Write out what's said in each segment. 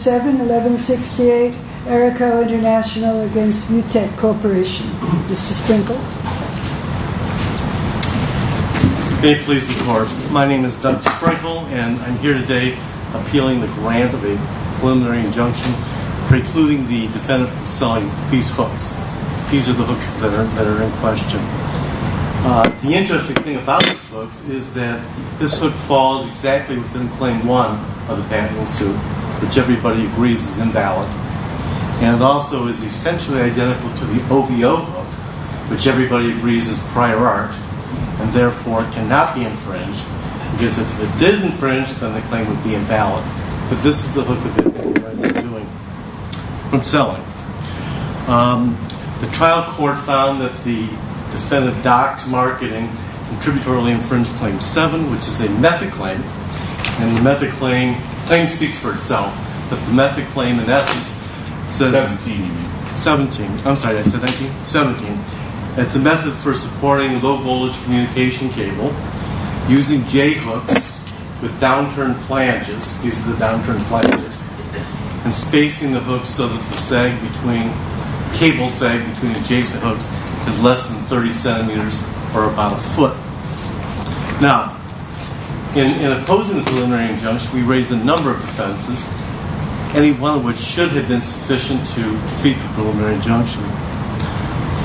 7-1168 Erico Intl v. Vutec Corp. Mr. Sprinkle? May it please the Court, my name is Doug Sprinkle and I'm here today appealing the grant of a preliminary injunction precluding the defendant from selling these hooks. These are the hooks that are in question. The interesting thing about these hooks is that this hook falls exactly within claim 1 of the Bantam Suit which everybody agrees is invalid. And it also is essentially identical to the OVO hook which everybody agrees is prior art and therefore cannot be infringed because if it did infringe, then the claim would be invalid. But this is the hook that the defendant is doing from selling. The trial court found that the defendant docks marketing and tributarily infringed claim 7 which is a method claim. And the method claim speaks for itself. The method claim in essence is 17. It's a method for supporting a low voltage communication cable using J hooks with downturn fly edges. These are the downturn fly edges. And spacing the hooks so that the cable sag between adjacent hooks is less than 30 centimeters or about a foot. Now, in opposing the preliminary injunction, we raised a number of defenses, any one of which should have been sufficient to defeat the preliminary injunction.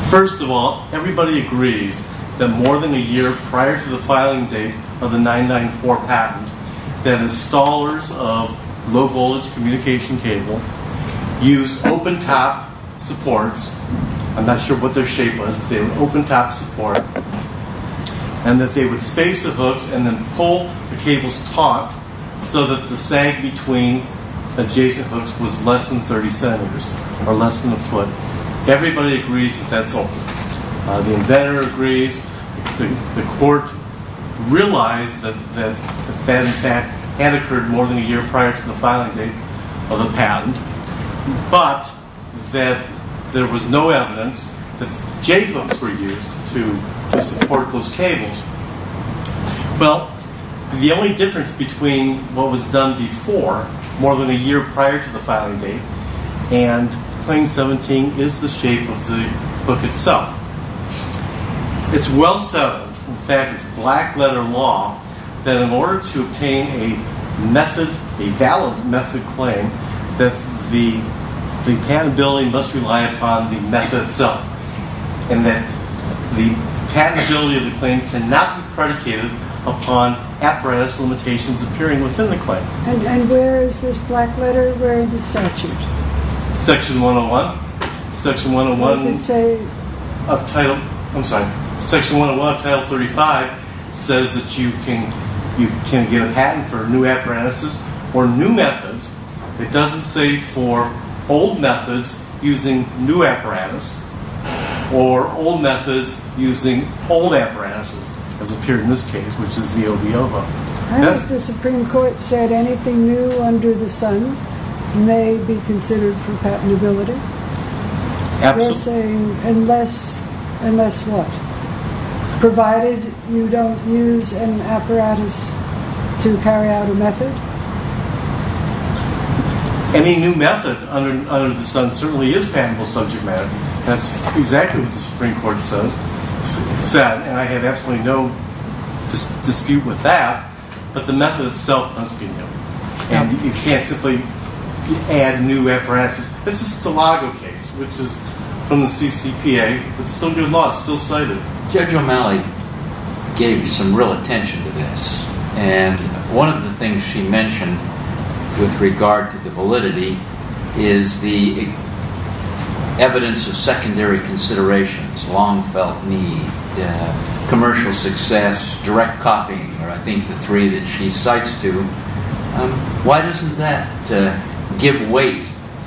First of all, everybody agrees that more than a year prior to the filing date of the 994 patent that installers of low voltage communication cable use open tap supports. I'm not sure what their shape was, but they would open tap support and that they would space the hooks and then pull the cables taut so that the sag between adjacent hooks was less than 30 centimeters or less than a foot. Everybody agrees that that's all. The inventor agrees. The court realized that that, in fact, had occurred more than a year prior to the filing date of the patent, but that there was no evidence that J hooks were used to support those cables. Well, the only difference between what was done before, more than a year prior to the filing date, and Claim 17 is the shape of the book itself. It's well said, in fact, it's black letter law, that in order to obtain a method, a valid method claim, that the patentability must rely upon the method itself and that the patentability of the claim cannot be predicated upon apparatus limitations appearing within the claim. And where is this black letter, where is the statute? Section 101 of Title 35 says that you can get a patent for new apparatuses or new methods. It doesn't say for old methods using new apparatus or old methods using old apparatuses, as appeared in this case, which is the OVO. Has the Supreme Court said anything new under the sun may be considered for patentability? Absolutely. They're saying unless, unless what? Provided you don't use an apparatus to carry out a method? Any new method under the sun certainly is patentable subject matter. That's exactly what the Supreme Court said, and I have absolutely no dispute with that, but the method itself must be new. And you can't simply add new apparatuses. This is the Stilago case, which is from the CCPA, it's still good law, it's still cited. Judge O'Malley gave some real attention to this, and one of the things she mentioned with regard to the validity is the evidence of secondary considerations, long felt need, commercial success, direct copying are, I think, the three that she cites to. Why doesn't that give weight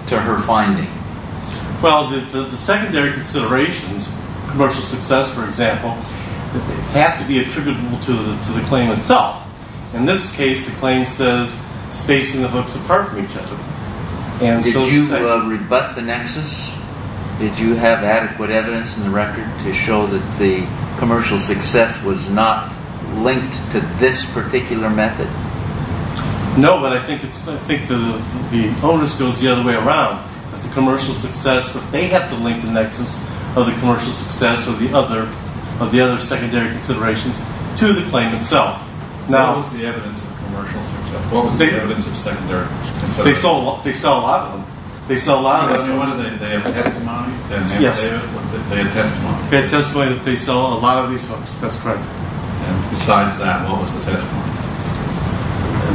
to her finding? Well, the secondary considerations, commercial success, for example, have to be attributable to the claim itself. In this case, the claim says spacing the hooks apart from each other. Did you rebut the nexus? Did you have adequate evidence in the record to show that the commercial success was not linked to this particular method? No, but I think the onus goes the other way around. The commercial success, they have to link the nexus of the commercial success of the other secondary considerations to the claim itself. What was the evidence of commercial success? What was the evidence of secondary considerations? They sell a lot of them. They have testimony? Yes. They have testimony? They have testimony that they sold a lot of these hooks. That's correct. And besides that, what was the testimony?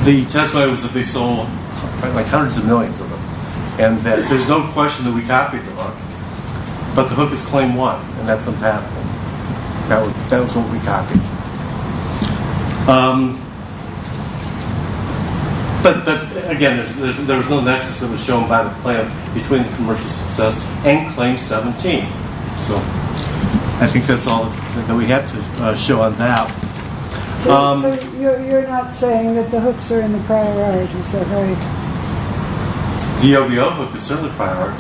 The testimony was that they sold hundreds of millions of them, and that there's no question that we copied the hook, but the hook is claim 1, and that's the path. That was what we copied. But, again, there was no nexus that was shown by the plan between the commercial success and claim 17. I think that's all that we have to show on that. So you're not saying that the hooks are in the prior art, is that right? The OBO hook is certainly prior art.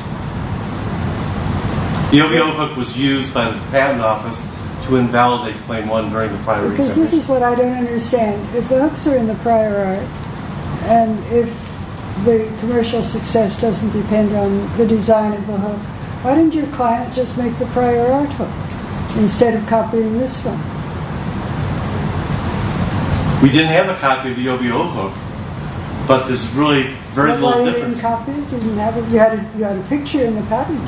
The OBO hook was used by the patent office to invalidate claim 1 during the prior exhibition. Because this is what I don't understand. If the hooks are in the prior art, and if the commercial success doesn't depend on the design of the hook, why didn't your client just make the prior art hook instead of copying this one? We didn't have a copy of the OBO hook, but there's really very little difference. You had a picture in the patent.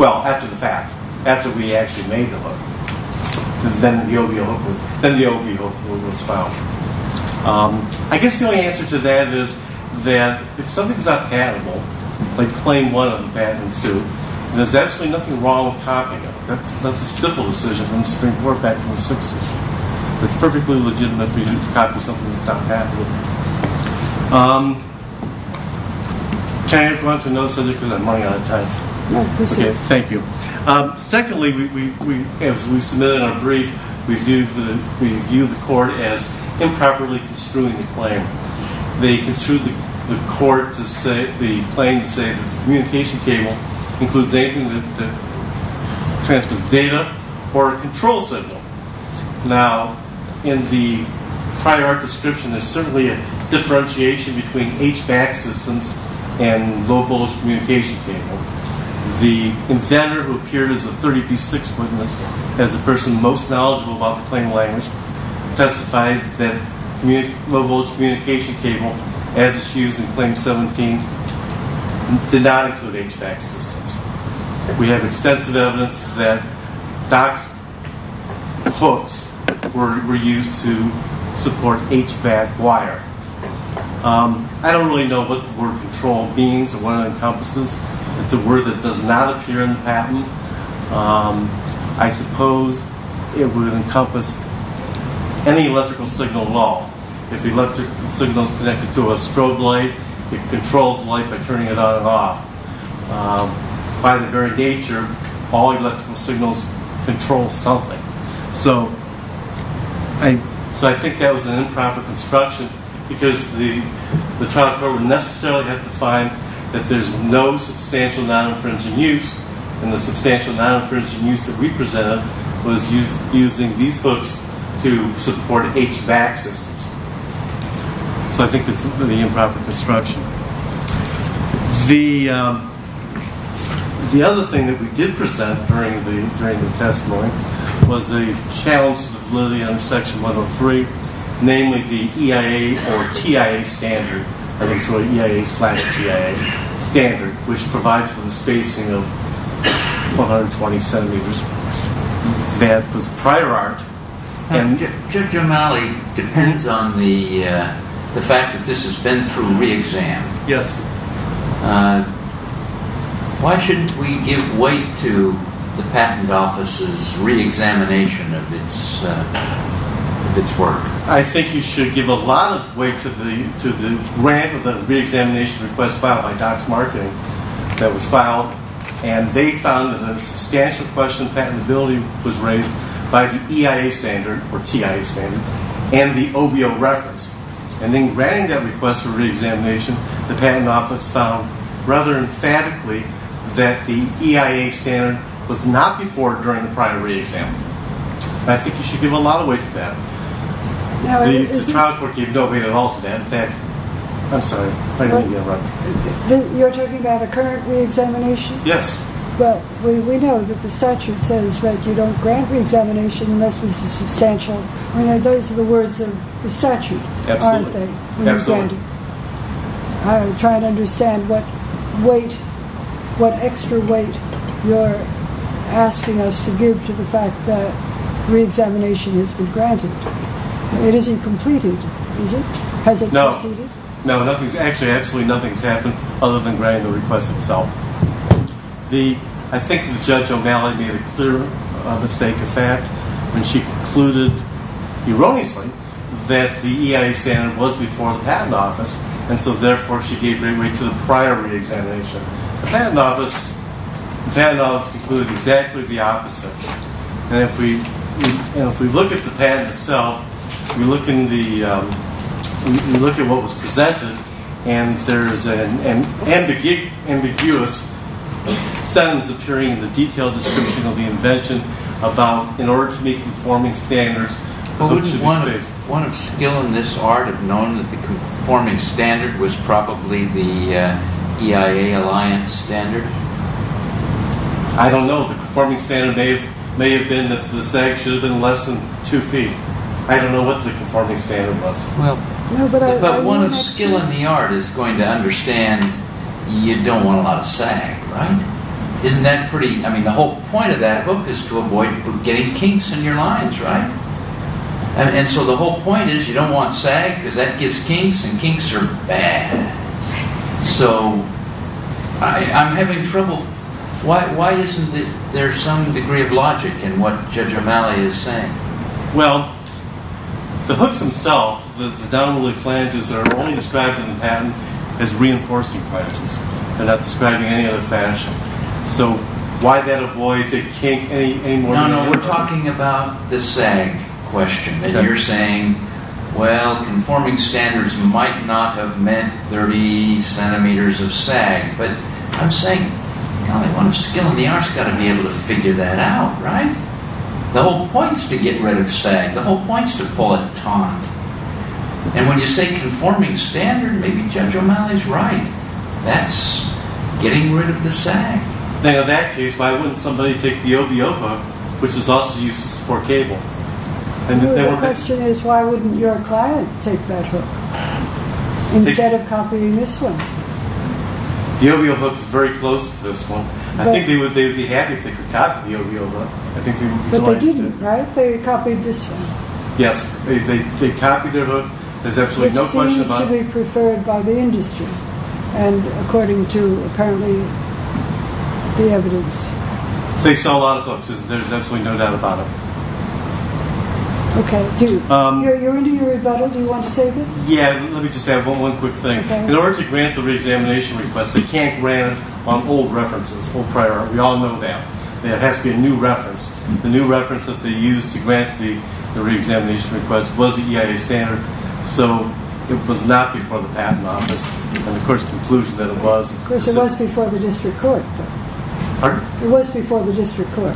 Well, that's a fact. That's what we actually made the hook. Then the OBO hook was found. I guess the only answer to that is that if something's not patentable, like claim 1 on the patent suit, there's actually nothing wrong with copying it. That's a civil decision from the Supreme Court back in the 60s. It's perfectly legitimate for you to copy something that's not patentable. Can I just run to another subject because I'm running out of time? No, proceed. Thank you. Secondly, as we submitted our brief, we viewed the court as improperly construing the claim. They construed the claim to say the communication cable includes anything that transmits data or a control signal. Now, in the prior art description, there's certainly a differentiation between HVAC systems and low-voltage communication cable. The inventor who appeared as a 30p6 witness as the person most knowledgeable about the claim language testified that low-voltage communication cable, as it's used in Claim 17, did not include HVAC systems. We have extensive evidence that Dock's hooks were used to support HVAC wire. I don't really know what the word control means or what it encompasses. It's a word that does not appear in the patent. I suppose it would encompass any electrical signal at all. If the electrical signal is connected to a strobe light, it controls the light by turning it on and off. By the very nature, all electrical signals control something. So I think that was an improper construction because the trial court would necessarily have to find that there's no substantial non-infringing use, and the substantial non-infringing use that we presented was using these hooks to support HVAC systems. So I think it's really improper construction. The other thing that we did present during the testimony was a challenge to the validity under Section 103, namely the EIA or TIA standard. I think it's really EIA slash TIA standard, which provides for the spacing of 120 centimeters. That was prior art. Judge O'Malley, it depends on the fact that this has been through re-exam. Yes. Why shouldn't we give weight to the Patent Office's re-examination of its work? I think you should give a lot of weight to the grant of the re-examination request filed by Docs Marketing that was filed, and they found that a substantial question of patentability was raised by the EIA standard or TIA standard and the OBO reference. And in writing that request for re-examination, the Patent Office found rather emphatically that the EIA standard was not before during the prior re-exam. I think you should give a lot of weight to that. The trial court gave no weight at all to that. In fact, I'm sorry. You're talking about a current re-examination? Yes. But we know that the statute says that you don't grant re-examination unless it's substantial. Those are the words of the statute, aren't they? Absolutely. I'm trying to understand what weight, what extra weight you're asking us to give to the fact that re-examination has been granted. It isn't completed, is it? No. Actually, absolutely nothing has happened other than granting the request itself. I think Judge O'Malley made a clear mistake of fact when she concluded erroneously that the EIA standard was before the Patent Office, and so therefore she gave great weight to the prior re-examination. The Patent Office concluded exactly the opposite. If we look at the patent itself, we look at what was presented, and there's an ambiguous sentence appearing in the detailed description of the invention about, in order to meet conforming standards... Wouldn't one of skill in this art have known that the conforming standard was probably the EIA alliance standard? I don't know. The conforming standard may have been that the sag should have been less than two feet. I don't know what the conforming standard was. But one of skill in the art is going to understand you don't want a lot of sag, right? Isn't that pretty... I mean, the whole point of that book is to avoid getting kinks in your lines, right? And so the whole point is you don't want sag because that gives kinks, and kinks are bad. So, I'm having trouble... Why isn't there some degree of logic in what Judge O'Malley is saying? Well, the hooks themselves, the downwardly flanges, are only described in the patent as reinforcing flanges. They're not described in any other fashion. So, why that avoids a kink any more than... No, no, we're talking about the sag question. And you're saying, well, conforming standards might not have meant 30 centimeters of sag, but I'm saying the only one of skill in the art's got to be able to figure that out, right? The whole point's to get rid of sag. The whole point's to pull a taunt. And when you say conforming standard, maybe Judge O'Malley's right. That's getting rid of the sag. Now, in that case, why wouldn't somebody take the OVO book, which was also used to support cable, The question is, why wouldn't your client take that hook, instead of copying this one? The OVO book's very close to this one. I think they would be happy if they could copy the OVO book. But they didn't, right? They copied this one. Yes, they copied their book. It seems to be preferred by the industry, and according to, apparently, the evidence. They sell a lot of books. There's absolutely no doubt about it. Okay. You're into your rebuttal. Do you want to say a bit? Yeah, let me just add one quick thing. In order to grant the reexamination request, they can't grant on old references, old prior art. We all know that. There has to be a new reference. The new reference that they used to grant the reexamination request was the EIA standard, so it was not before the Patent Office. And of course, the conclusion that it was... Of course, it was before the district court. Pardon? It was before the district court.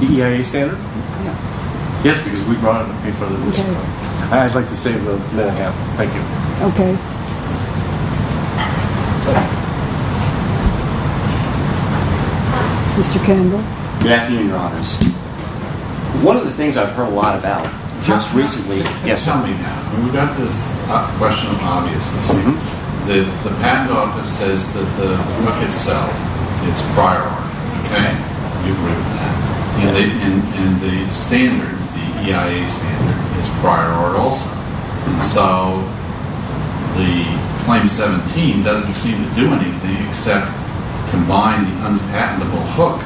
The EIA standard? Yeah. Yes, because we brought it before the district court. Okay. I'd like to say that I have. Thank you. Okay. Mr. Campbell? Good afternoon, Your Honors. One of the things I've heard a lot about just recently... Yes, tell me now. We've got this question of obviousness. The Patent Office says that the hook itself is prior art. Okay. You agree with that? Yes. And the standard, the EIA standard, is prior art also. And so the Claim 17 doesn't seem to do anything except combine the unpatentable hook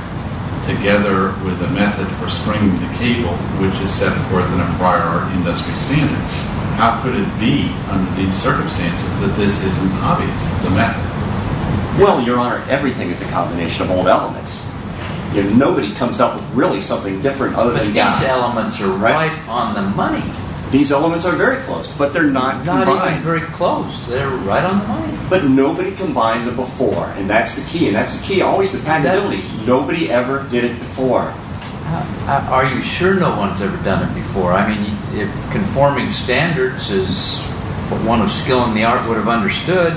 together with a method for stringing the cable, which is set forth in a prior art industry standard. How could it be, under these circumstances, that this isn't obvious, the method? Well, Your Honor, everything is a combination of old elements. Nobody comes up with really something different other than gas. But these elements are right on the money. These elements are very close, but they're not combined. Not even very close. They're right on the money. But nobody combined the before, and that's the key. And that's the key, always the patentability. Nobody ever did it before. Are you sure no one's ever done it before? I mean, if conforming standards is what one of skill in the art would have understood,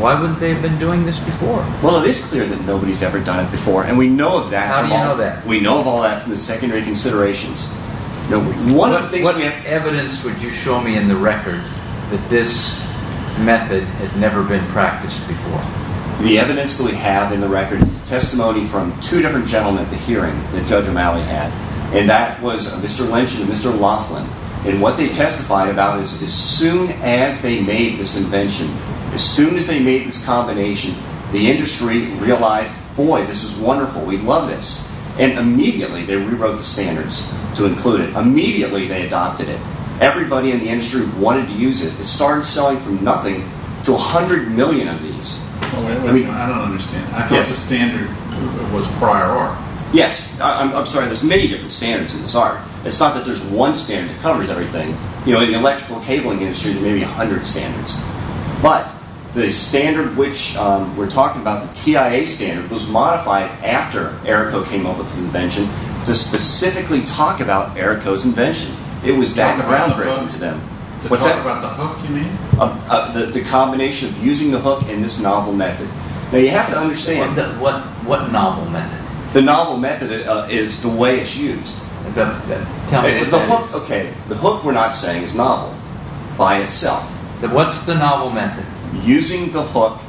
why wouldn't they have been doing this before? Well, it is clear that nobody's ever done it before, and we know of that. How do you know that? We know of all that from the secondary considerations. What evidence would you show me in the record that this method had never been practiced before? The evidence that we have in the record is testimony from two different gentlemen at the hearing that Judge O'Malley had, and that was Mr. Lynch and Mr. Laughlin. And what they testified about is as soon as they made this invention, as soon as they made this combination, the industry realized, boy, this is wonderful, we love this. And immediately they rewrote the standards to include it. Immediately they adopted it. Everybody in the industry wanted to use it. It started selling from nothing to 100 million of these. I don't understand. I thought the standard was prior art. Yes, I'm sorry, there's many different standards in this art. It's not that there's one standard that covers everything. You know, in the electrical cabling industry, there may be a hundred standards. But the standard which we're talking about, the TIA standard, was modified after Errico came up with this invention to specifically talk about Errico's invention. It was that groundbreaking to them. To talk about the hook, you mean? The combination of using the hook and this novel method. Now, you have to understand that... What novel method? The novel method is the way it's used. The hook we're not saying is novel by itself. What's the novel method? Using the hook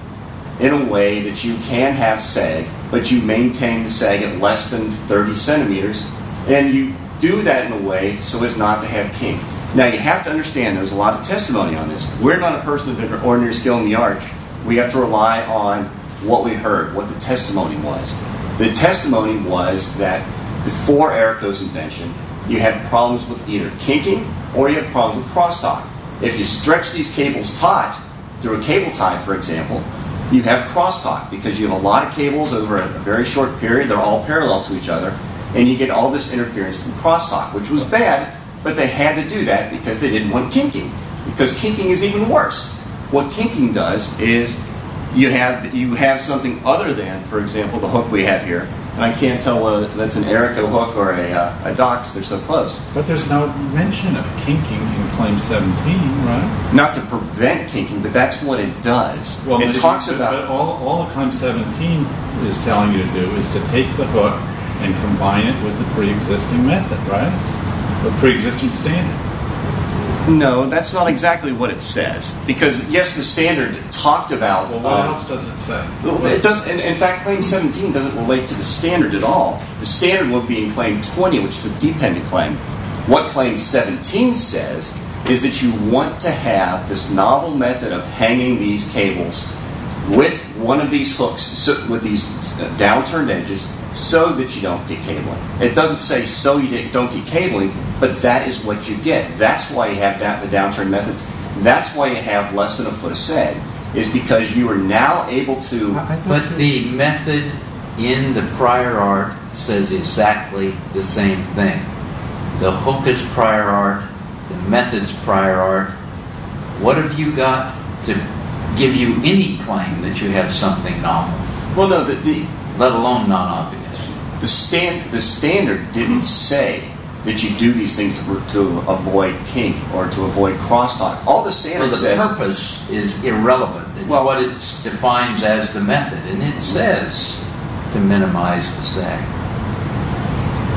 in a way that you can have sag, but you maintain the sag at less than 30 centimeters, and you do that in a way so as not to have kink. Now, you have to understand there's a lot of testimony on this. We're not a person with an ordinary skill in the art. We have to rely on what we heard, what the testimony was. The testimony was that before Errico's invention, you had problems with either kinking or you had problems with crosstalk. If you stretch these cables taut through a cable tie, for example, you have crosstalk because you have a lot of cables over a very short period. They're all parallel to each other, and you get all this interference from crosstalk, which was bad, but they had to do that because they didn't want kinking, because kinking is even worse. What kinking does is you have something other than, for example, the hook we have here. I can't tell whether that's an Errico hook or a DOCS. They're so close. But there's no mention of kinking in Claim 17, right? Not to prevent kinking, but that's what it does. All that Claim 17 is telling you to do is to take the hook and combine it with the preexisting method, right? The preexisting standard. No, that's not exactly what it says. Because, yes, the standard talked about... Well, what else does it say? In fact, Claim 17 doesn't relate to the standard at all. The standard would be in Claim 20, which is a dependent claim. What Claim 17 says is that you want to have this novel method of hanging these cables with one of these hooks with these downturned edges so that you don't get cabling. It doesn't say so you don't get cabling, but that is what you get. That's why you have the downturned methods. That's why you have less than a foot of sag. It's because you are now able to... But the method in the prior art says exactly the same thing. The hook is prior art. The method's prior art. What have you got to give you any claim that you have something novel? Well, no, the... Let alone non-obvious. The standard didn't say that you do these things to avoid kink or to avoid crosstalk. All the standard says... But the purpose is irrelevant. It's what it defines as the method, and it says to minimize the sag.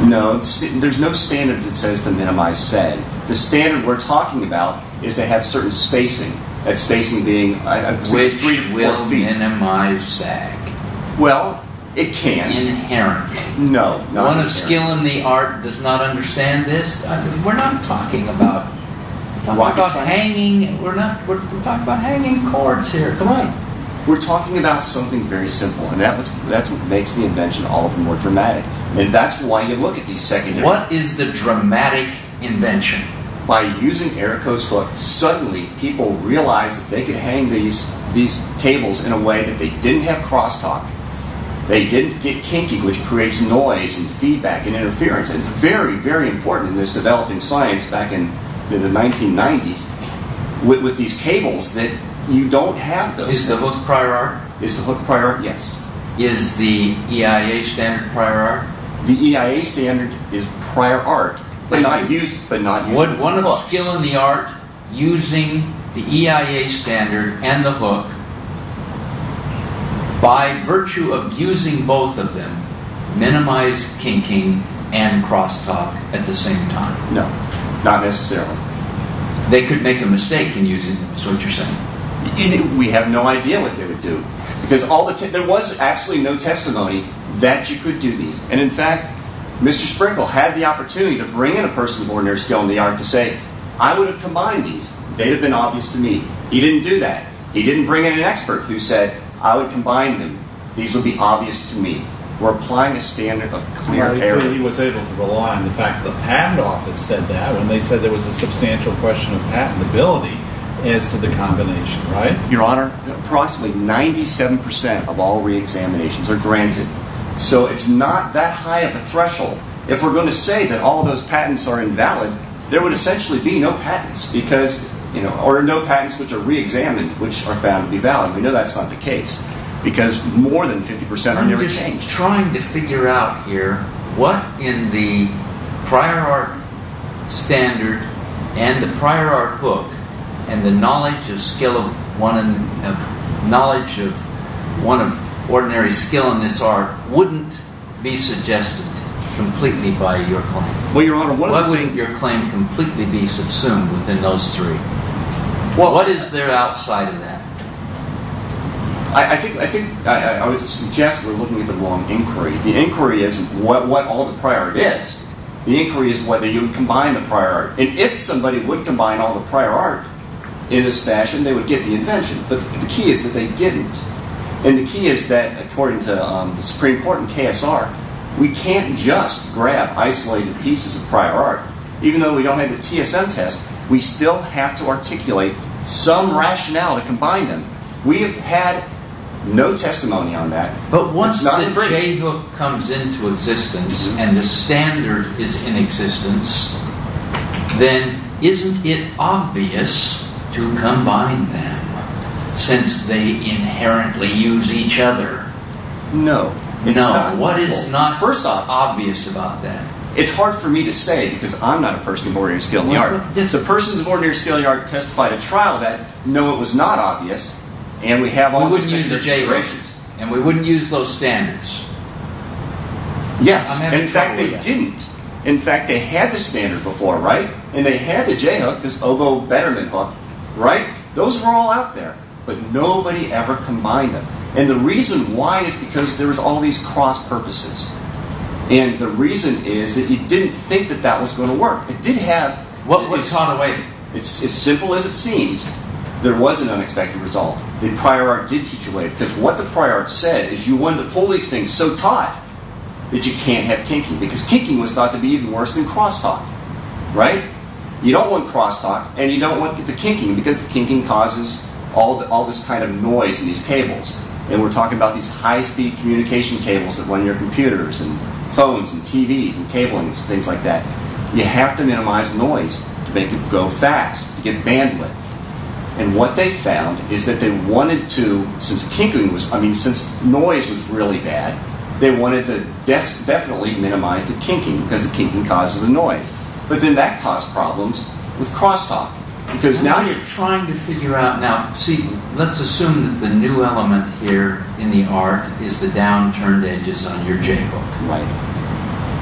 No, there's no standard that says to minimize sag. The standard we're talking about is to have certain spacing. That spacing being, I would say, three to four feet. Which will minimize sag. Well, it can. Inherent. No, not inherent. One of skill in the art does not understand this. We're not talking about... We're talking about hanging... We're talking about hanging cords here. Come on. We're talking about something very simple, and that's what makes the invention all the more dramatic. And that's why you look at these secondary... What is the dramatic invention? By using Erico's hook, suddenly people realized that they could hang these cables in a way that they didn't have crosstalk. They didn't get kinking, which creates noise and feedback and interference. It's very, very important in this developing science back in the 1990s. With these cables that you don't have those... Is the hook prior art? Is the hook prior art? Yes. Is the EIA standard prior art? But not using one of the hooks. Is skill in the art using the EIA standard and the hook by virtue of using both of them, minimize kinking and crosstalk at the same time? No, not necessarily. They could make a mistake in using them. Is that what you're saying? We have no idea what they would do, because there was absolutely no testimony that you could do these. And in fact, Mr. Sprinkle had the opportunity to bring in a person born near skill in the art to say, I would have combined these. They would have been obvious to me. He didn't do that. He didn't bring in an expert who said, I would combine them. These would be obvious to me. We're applying a standard of clear error. He was able to rely on the fact that the patent office said that when they said there was a substantial question of patentability as to the combination, right? Your Honor, approximately 97% of all reexaminations are granted. So it's not that high of a threshold. If we're going to say that all those patents are invalid, there would essentially be no patents, or no patents which are reexamined which are found to be valid. We know that's not the case, because more than 50% are never changed. I'm just trying to figure out here what in the prior art standard and the prior art book and the knowledge of ordinary skill in this art wouldn't be suggested completely by your claim? What would your claim completely be subsumed within those three? What is there outside of that? I would suggest we're looking at the wrong inquiry. The inquiry isn't what all the prior art is. The inquiry is whether you combine the prior art. And if somebody would combine all the prior art in this fashion, they would get the invention. But the key is that they didn't. And the key is that, according to the Supreme Court and KSR, we can't just grab isolated pieces of prior art. Even though we don't have the TSM test, we still have to articulate some rationale to combine them. We have had no testimony on that. But once the J-Hook comes into existence, and the standard is in existence, then isn't it obvious to combine them, since they inherently use each other? No, it's not. What is not obvious about that? It's hard for me to say, because I'm not a person of ordinary skill in the art. The persons of ordinary skill in the art testified at trial that, no, it was not obvious. We wouldn't use the J-Hook, and we wouldn't use those standards. Yes, in fact, they didn't. In fact, they had the standard before, right? And they had the J-Hook, this Oboe Betterman Hook, right? Those were all out there, but nobody ever combined them. And the reason why is because there was all these cross-purposes. And the reason is that you didn't think that that was going to work. It did have... What was taught away? As simple as it seems, there was an unexpected result. The prior art did teach away, because what the prior art said is, you wanted to pull these things so tight that you can't have kinking, because kinking was thought to be even worse than crosstalk, right? You don't want crosstalk, and you don't want the kinking, because the kinking causes all this kind of noise in these cables. And we're talking about these high-speed communication cables that run your computers and phones and TVs and cablings, things like that. You have to minimize noise to make it go fast, to get bandwidth. And what they found is that they wanted to... Since noise was really bad, they wanted to definitely minimize the kinking, because the kinking causes the noise. But then that caused problems with crosstalk, because now you're... I'm just trying to figure out... Now, see, let's assume that the new element here in the art is the downturned edges on your J-hook. Right.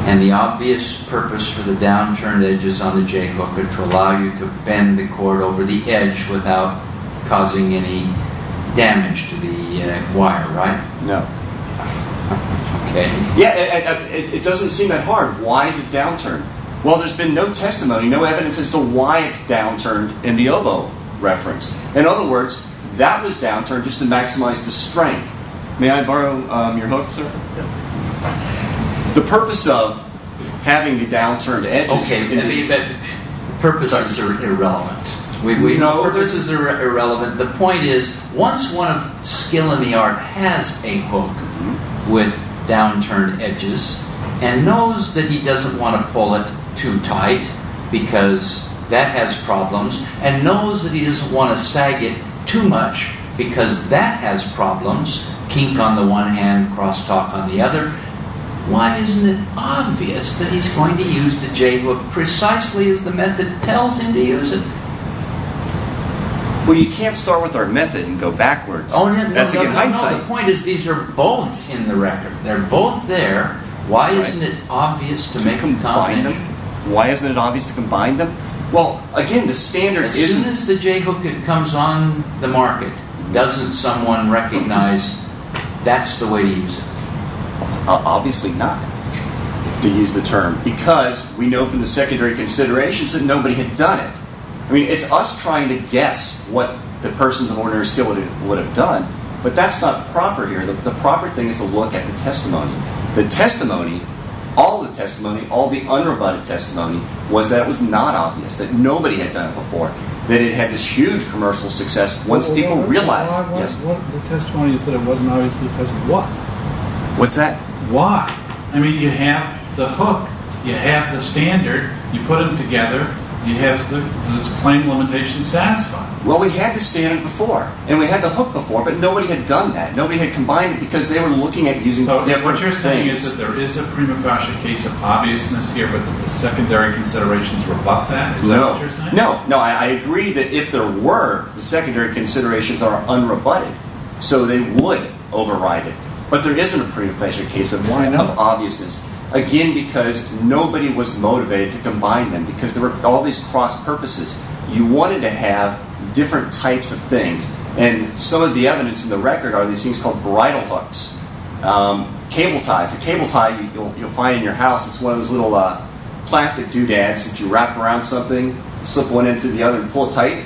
And the obvious purpose for the downturned edges on the J-hook are to allow you to bend the cord over the edge without causing any damage to the wire, right? No. Okay. Yeah, it doesn't seem that hard. Why is it downturned? Well, there's been no testimony, no evidence as to why it's downturned in the oboe reference. In other words, that was downturned just to maximize the strength. May I borrow your hook, sir? Yeah. The purpose of having the downturned edges... Okay, but the purpose is irrelevant. The purpose is irrelevant. The point is, once one of skill in the art has a hook with downturned edges and knows that he doesn't want to pull it too tight because that has problems and knows that he doesn't want to sag it too much because that has problems, kink on the one hand, cross-talk on the other, why isn't it obvious that he's going to use the J-hook precisely as the method tells him to use it? Well, you can't start with our method and go backwards. Oh, no, no. That's a good hindsight. The point is, these are both in the record. They're both there. Why isn't it obvious to make them dominant? Why isn't it obvious to combine them? Well, again, the standard... As soon as the J-hook comes on the market, doesn't someone recognize that's the way to use it? Obviously not, to use the term, because we know from the secondary considerations that nobody had done it. I mean, it's us trying to guess what the persons of ordinary skill would have done, but that's not proper here. The proper thing is to look at the testimony. The testimony, all the testimony, all the unrebutted testimony, was that it was not obvious, that nobody had done it before, that it had this huge commercial success once people realized it. The testimony is that it wasn't obvious because of what? What's that? Why? I mean, you have the hook, you have the standard, you put them together, you have the claim limitation satisfied. Well, we had the standard before, and we had the hook before, but nobody had done that. Nobody had combined it because they were looking at using different... So what you're saying is that there is a prima facie case of obviousness here, but the secondary considerations rebut that? No. No, I agree that if there were, the secondary considerations are unrebutted, so they would override it, but there isn't a prima facie case of obviousness, again, because nobody was motivated to combine them because there were all these cross purposes. You wanted to have different types of things, and some of the evidence in the record are these things called bridal hooks, cable ties. The cable tie you'll find in your house is one of those little plastic doodads that you wrap around something, slip one end through the other, and pull it tight.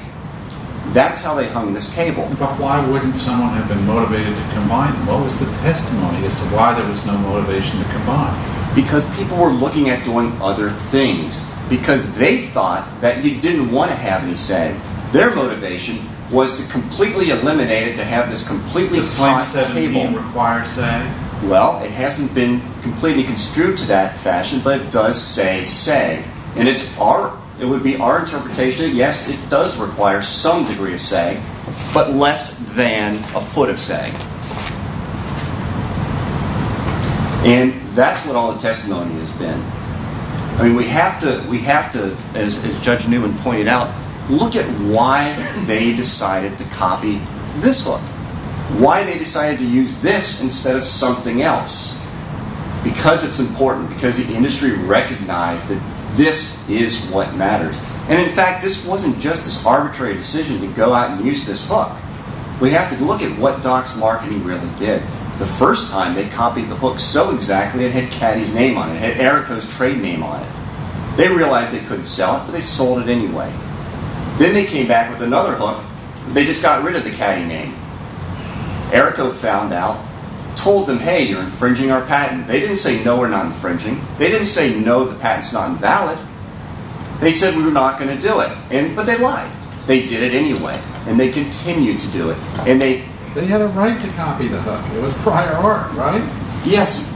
That's how they hung this cable. But why wouldn't someone have been motivated to combine them? What was the testimony as to why there was no motivation to combine? Because people were looking at doing other things because they thought that you didn't want to have me say their motivation was to completely eliminate it, to have this completely taut cable. Well, it hasn't been completely construed to that fashion, but it does say sag, and it would be our interpretation that yes, it does require some degree of sag, but less than a foot of sag. And that's what all the testimony has been. I mean, we have to, as Judge Newman pointed out, look at why they decided to copy this hook. Why they decided to use this instead of something else. Because it's important. Because the industry recognized that this is what mattered. And in fact, this wasn't just this arbitrary decision to go out and use this hook. We have to look at what Doc's Marketing really did. The first time they copied the hook so exactly it had Caddy's name on it. It had Erico's trade name on it. They realized they couldn't sell it, but they sold it anyway. Then they came back with another hook, but they just got rid of the Caddy name. Erico found out, told them, hey, you're infringing our patent. They didn't say no, we're not infringing. They didn't say no, the patent's not invalid. They said we're not going to do it. But they lied. They did it anyway. And they continued to do it. They had a right to copy the hook. It was prior art, right? Yes.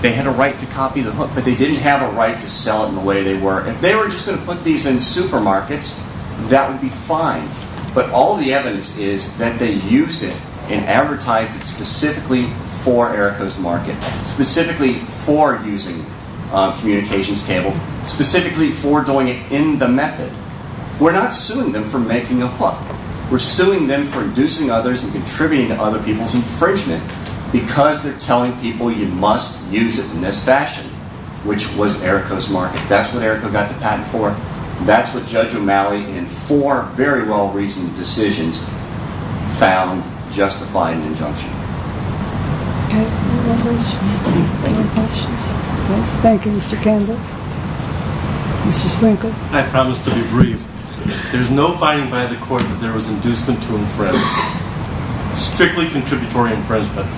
They had a right to copy the hook, but they didn't have a right to sell it in the way they were. If they were just going to put these in supermarkets, that would be fine. But all the evidence is that they used it and advertised it specifically for Erico's market, specifically for using communications cable, specifically for doing it in the method. We're not suing them for making a hook. We're suing them for inducing others and contributing to other people's infringement because they're telling people you must use it in this fashion, which was Erico's market. That's what Erico got the patent for. That's what Judge O'Malley, in four very well-reasoned decisions, found justifying the injunction. Okay. Any other questions? Any other questions? Okay. Thank you, Mr. Kendall. Mr. Sprinkler. I promise to be brief. There's no finding by the court that there was inducement to infringe, strictly contributory infringement.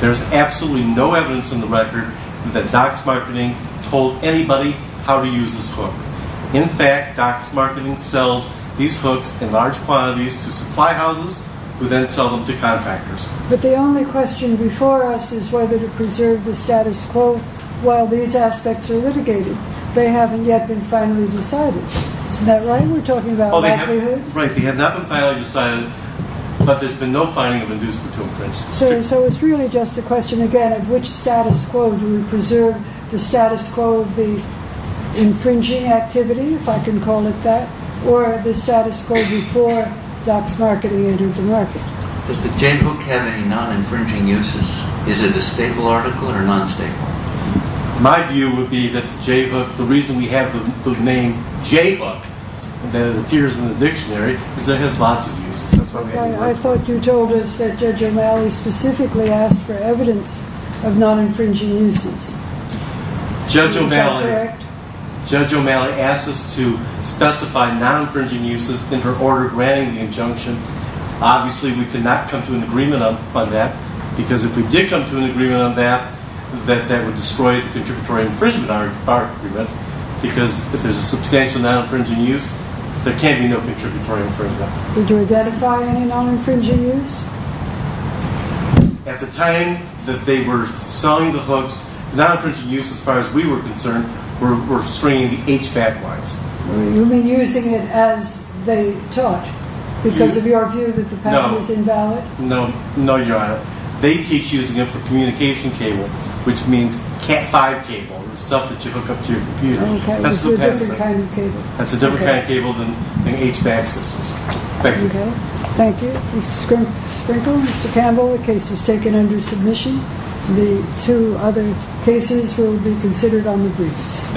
There's absolutely no evidence in the record that Doc's Marketing told anybody how to use this hook. In fact, Doc's Marketing sells these hooks in large quantities to supply houses who then sell them to contractors. But the only question before us is whether to preserve the status quo while these aspects are litigated. They haven't yet been finally decided. Isn't that right? We're talking about likelihoods? Right. They have not been finally decided, but there's been no finding of inducement to infringe. So it's really just a question, again, of which status quo do we preserve? The status quo of the infringing activity, if I can call it that, or the status quo before Doc's Marketing entered the market. Does the J-hook have any non-infringing uses? Is it a stable article or non-stable? My view would be that the J-hook, the reason we have the name J-hook that appears in the dictionary is that it has lots of uses. I thought you told us that Judge O'Malley specifically asked for evidence of non-infringing uses. Is that correct? Judge O'Malley asked us to specify non-infringing uses in her order granting the injunction. Obviously, we could not come to an agreement on that because if we did come to an agreement on that, that would destroy the contributory infringement argument because if there's a substantial non-infringing use, there can't be no contributory infringement. Did you identify any non-infringing use? At the time that they were selling the hooks, the non-infringing use, as far as we were concerned, were restraining the HVAC lines. You mean using it as they taught because of your view that the patent was invalid? No, Your Honor. They teach using it for communication cable, which means Cat 5 cable, the stuff that you hook up to your computer. That's a different kind of cable. That's a different kind of cable than HVAC systems. Thank you. Thank you. Mr. Sprinkle, Mr. Campbell, the case is taken under submission. The two other cases will be considered on the briefs.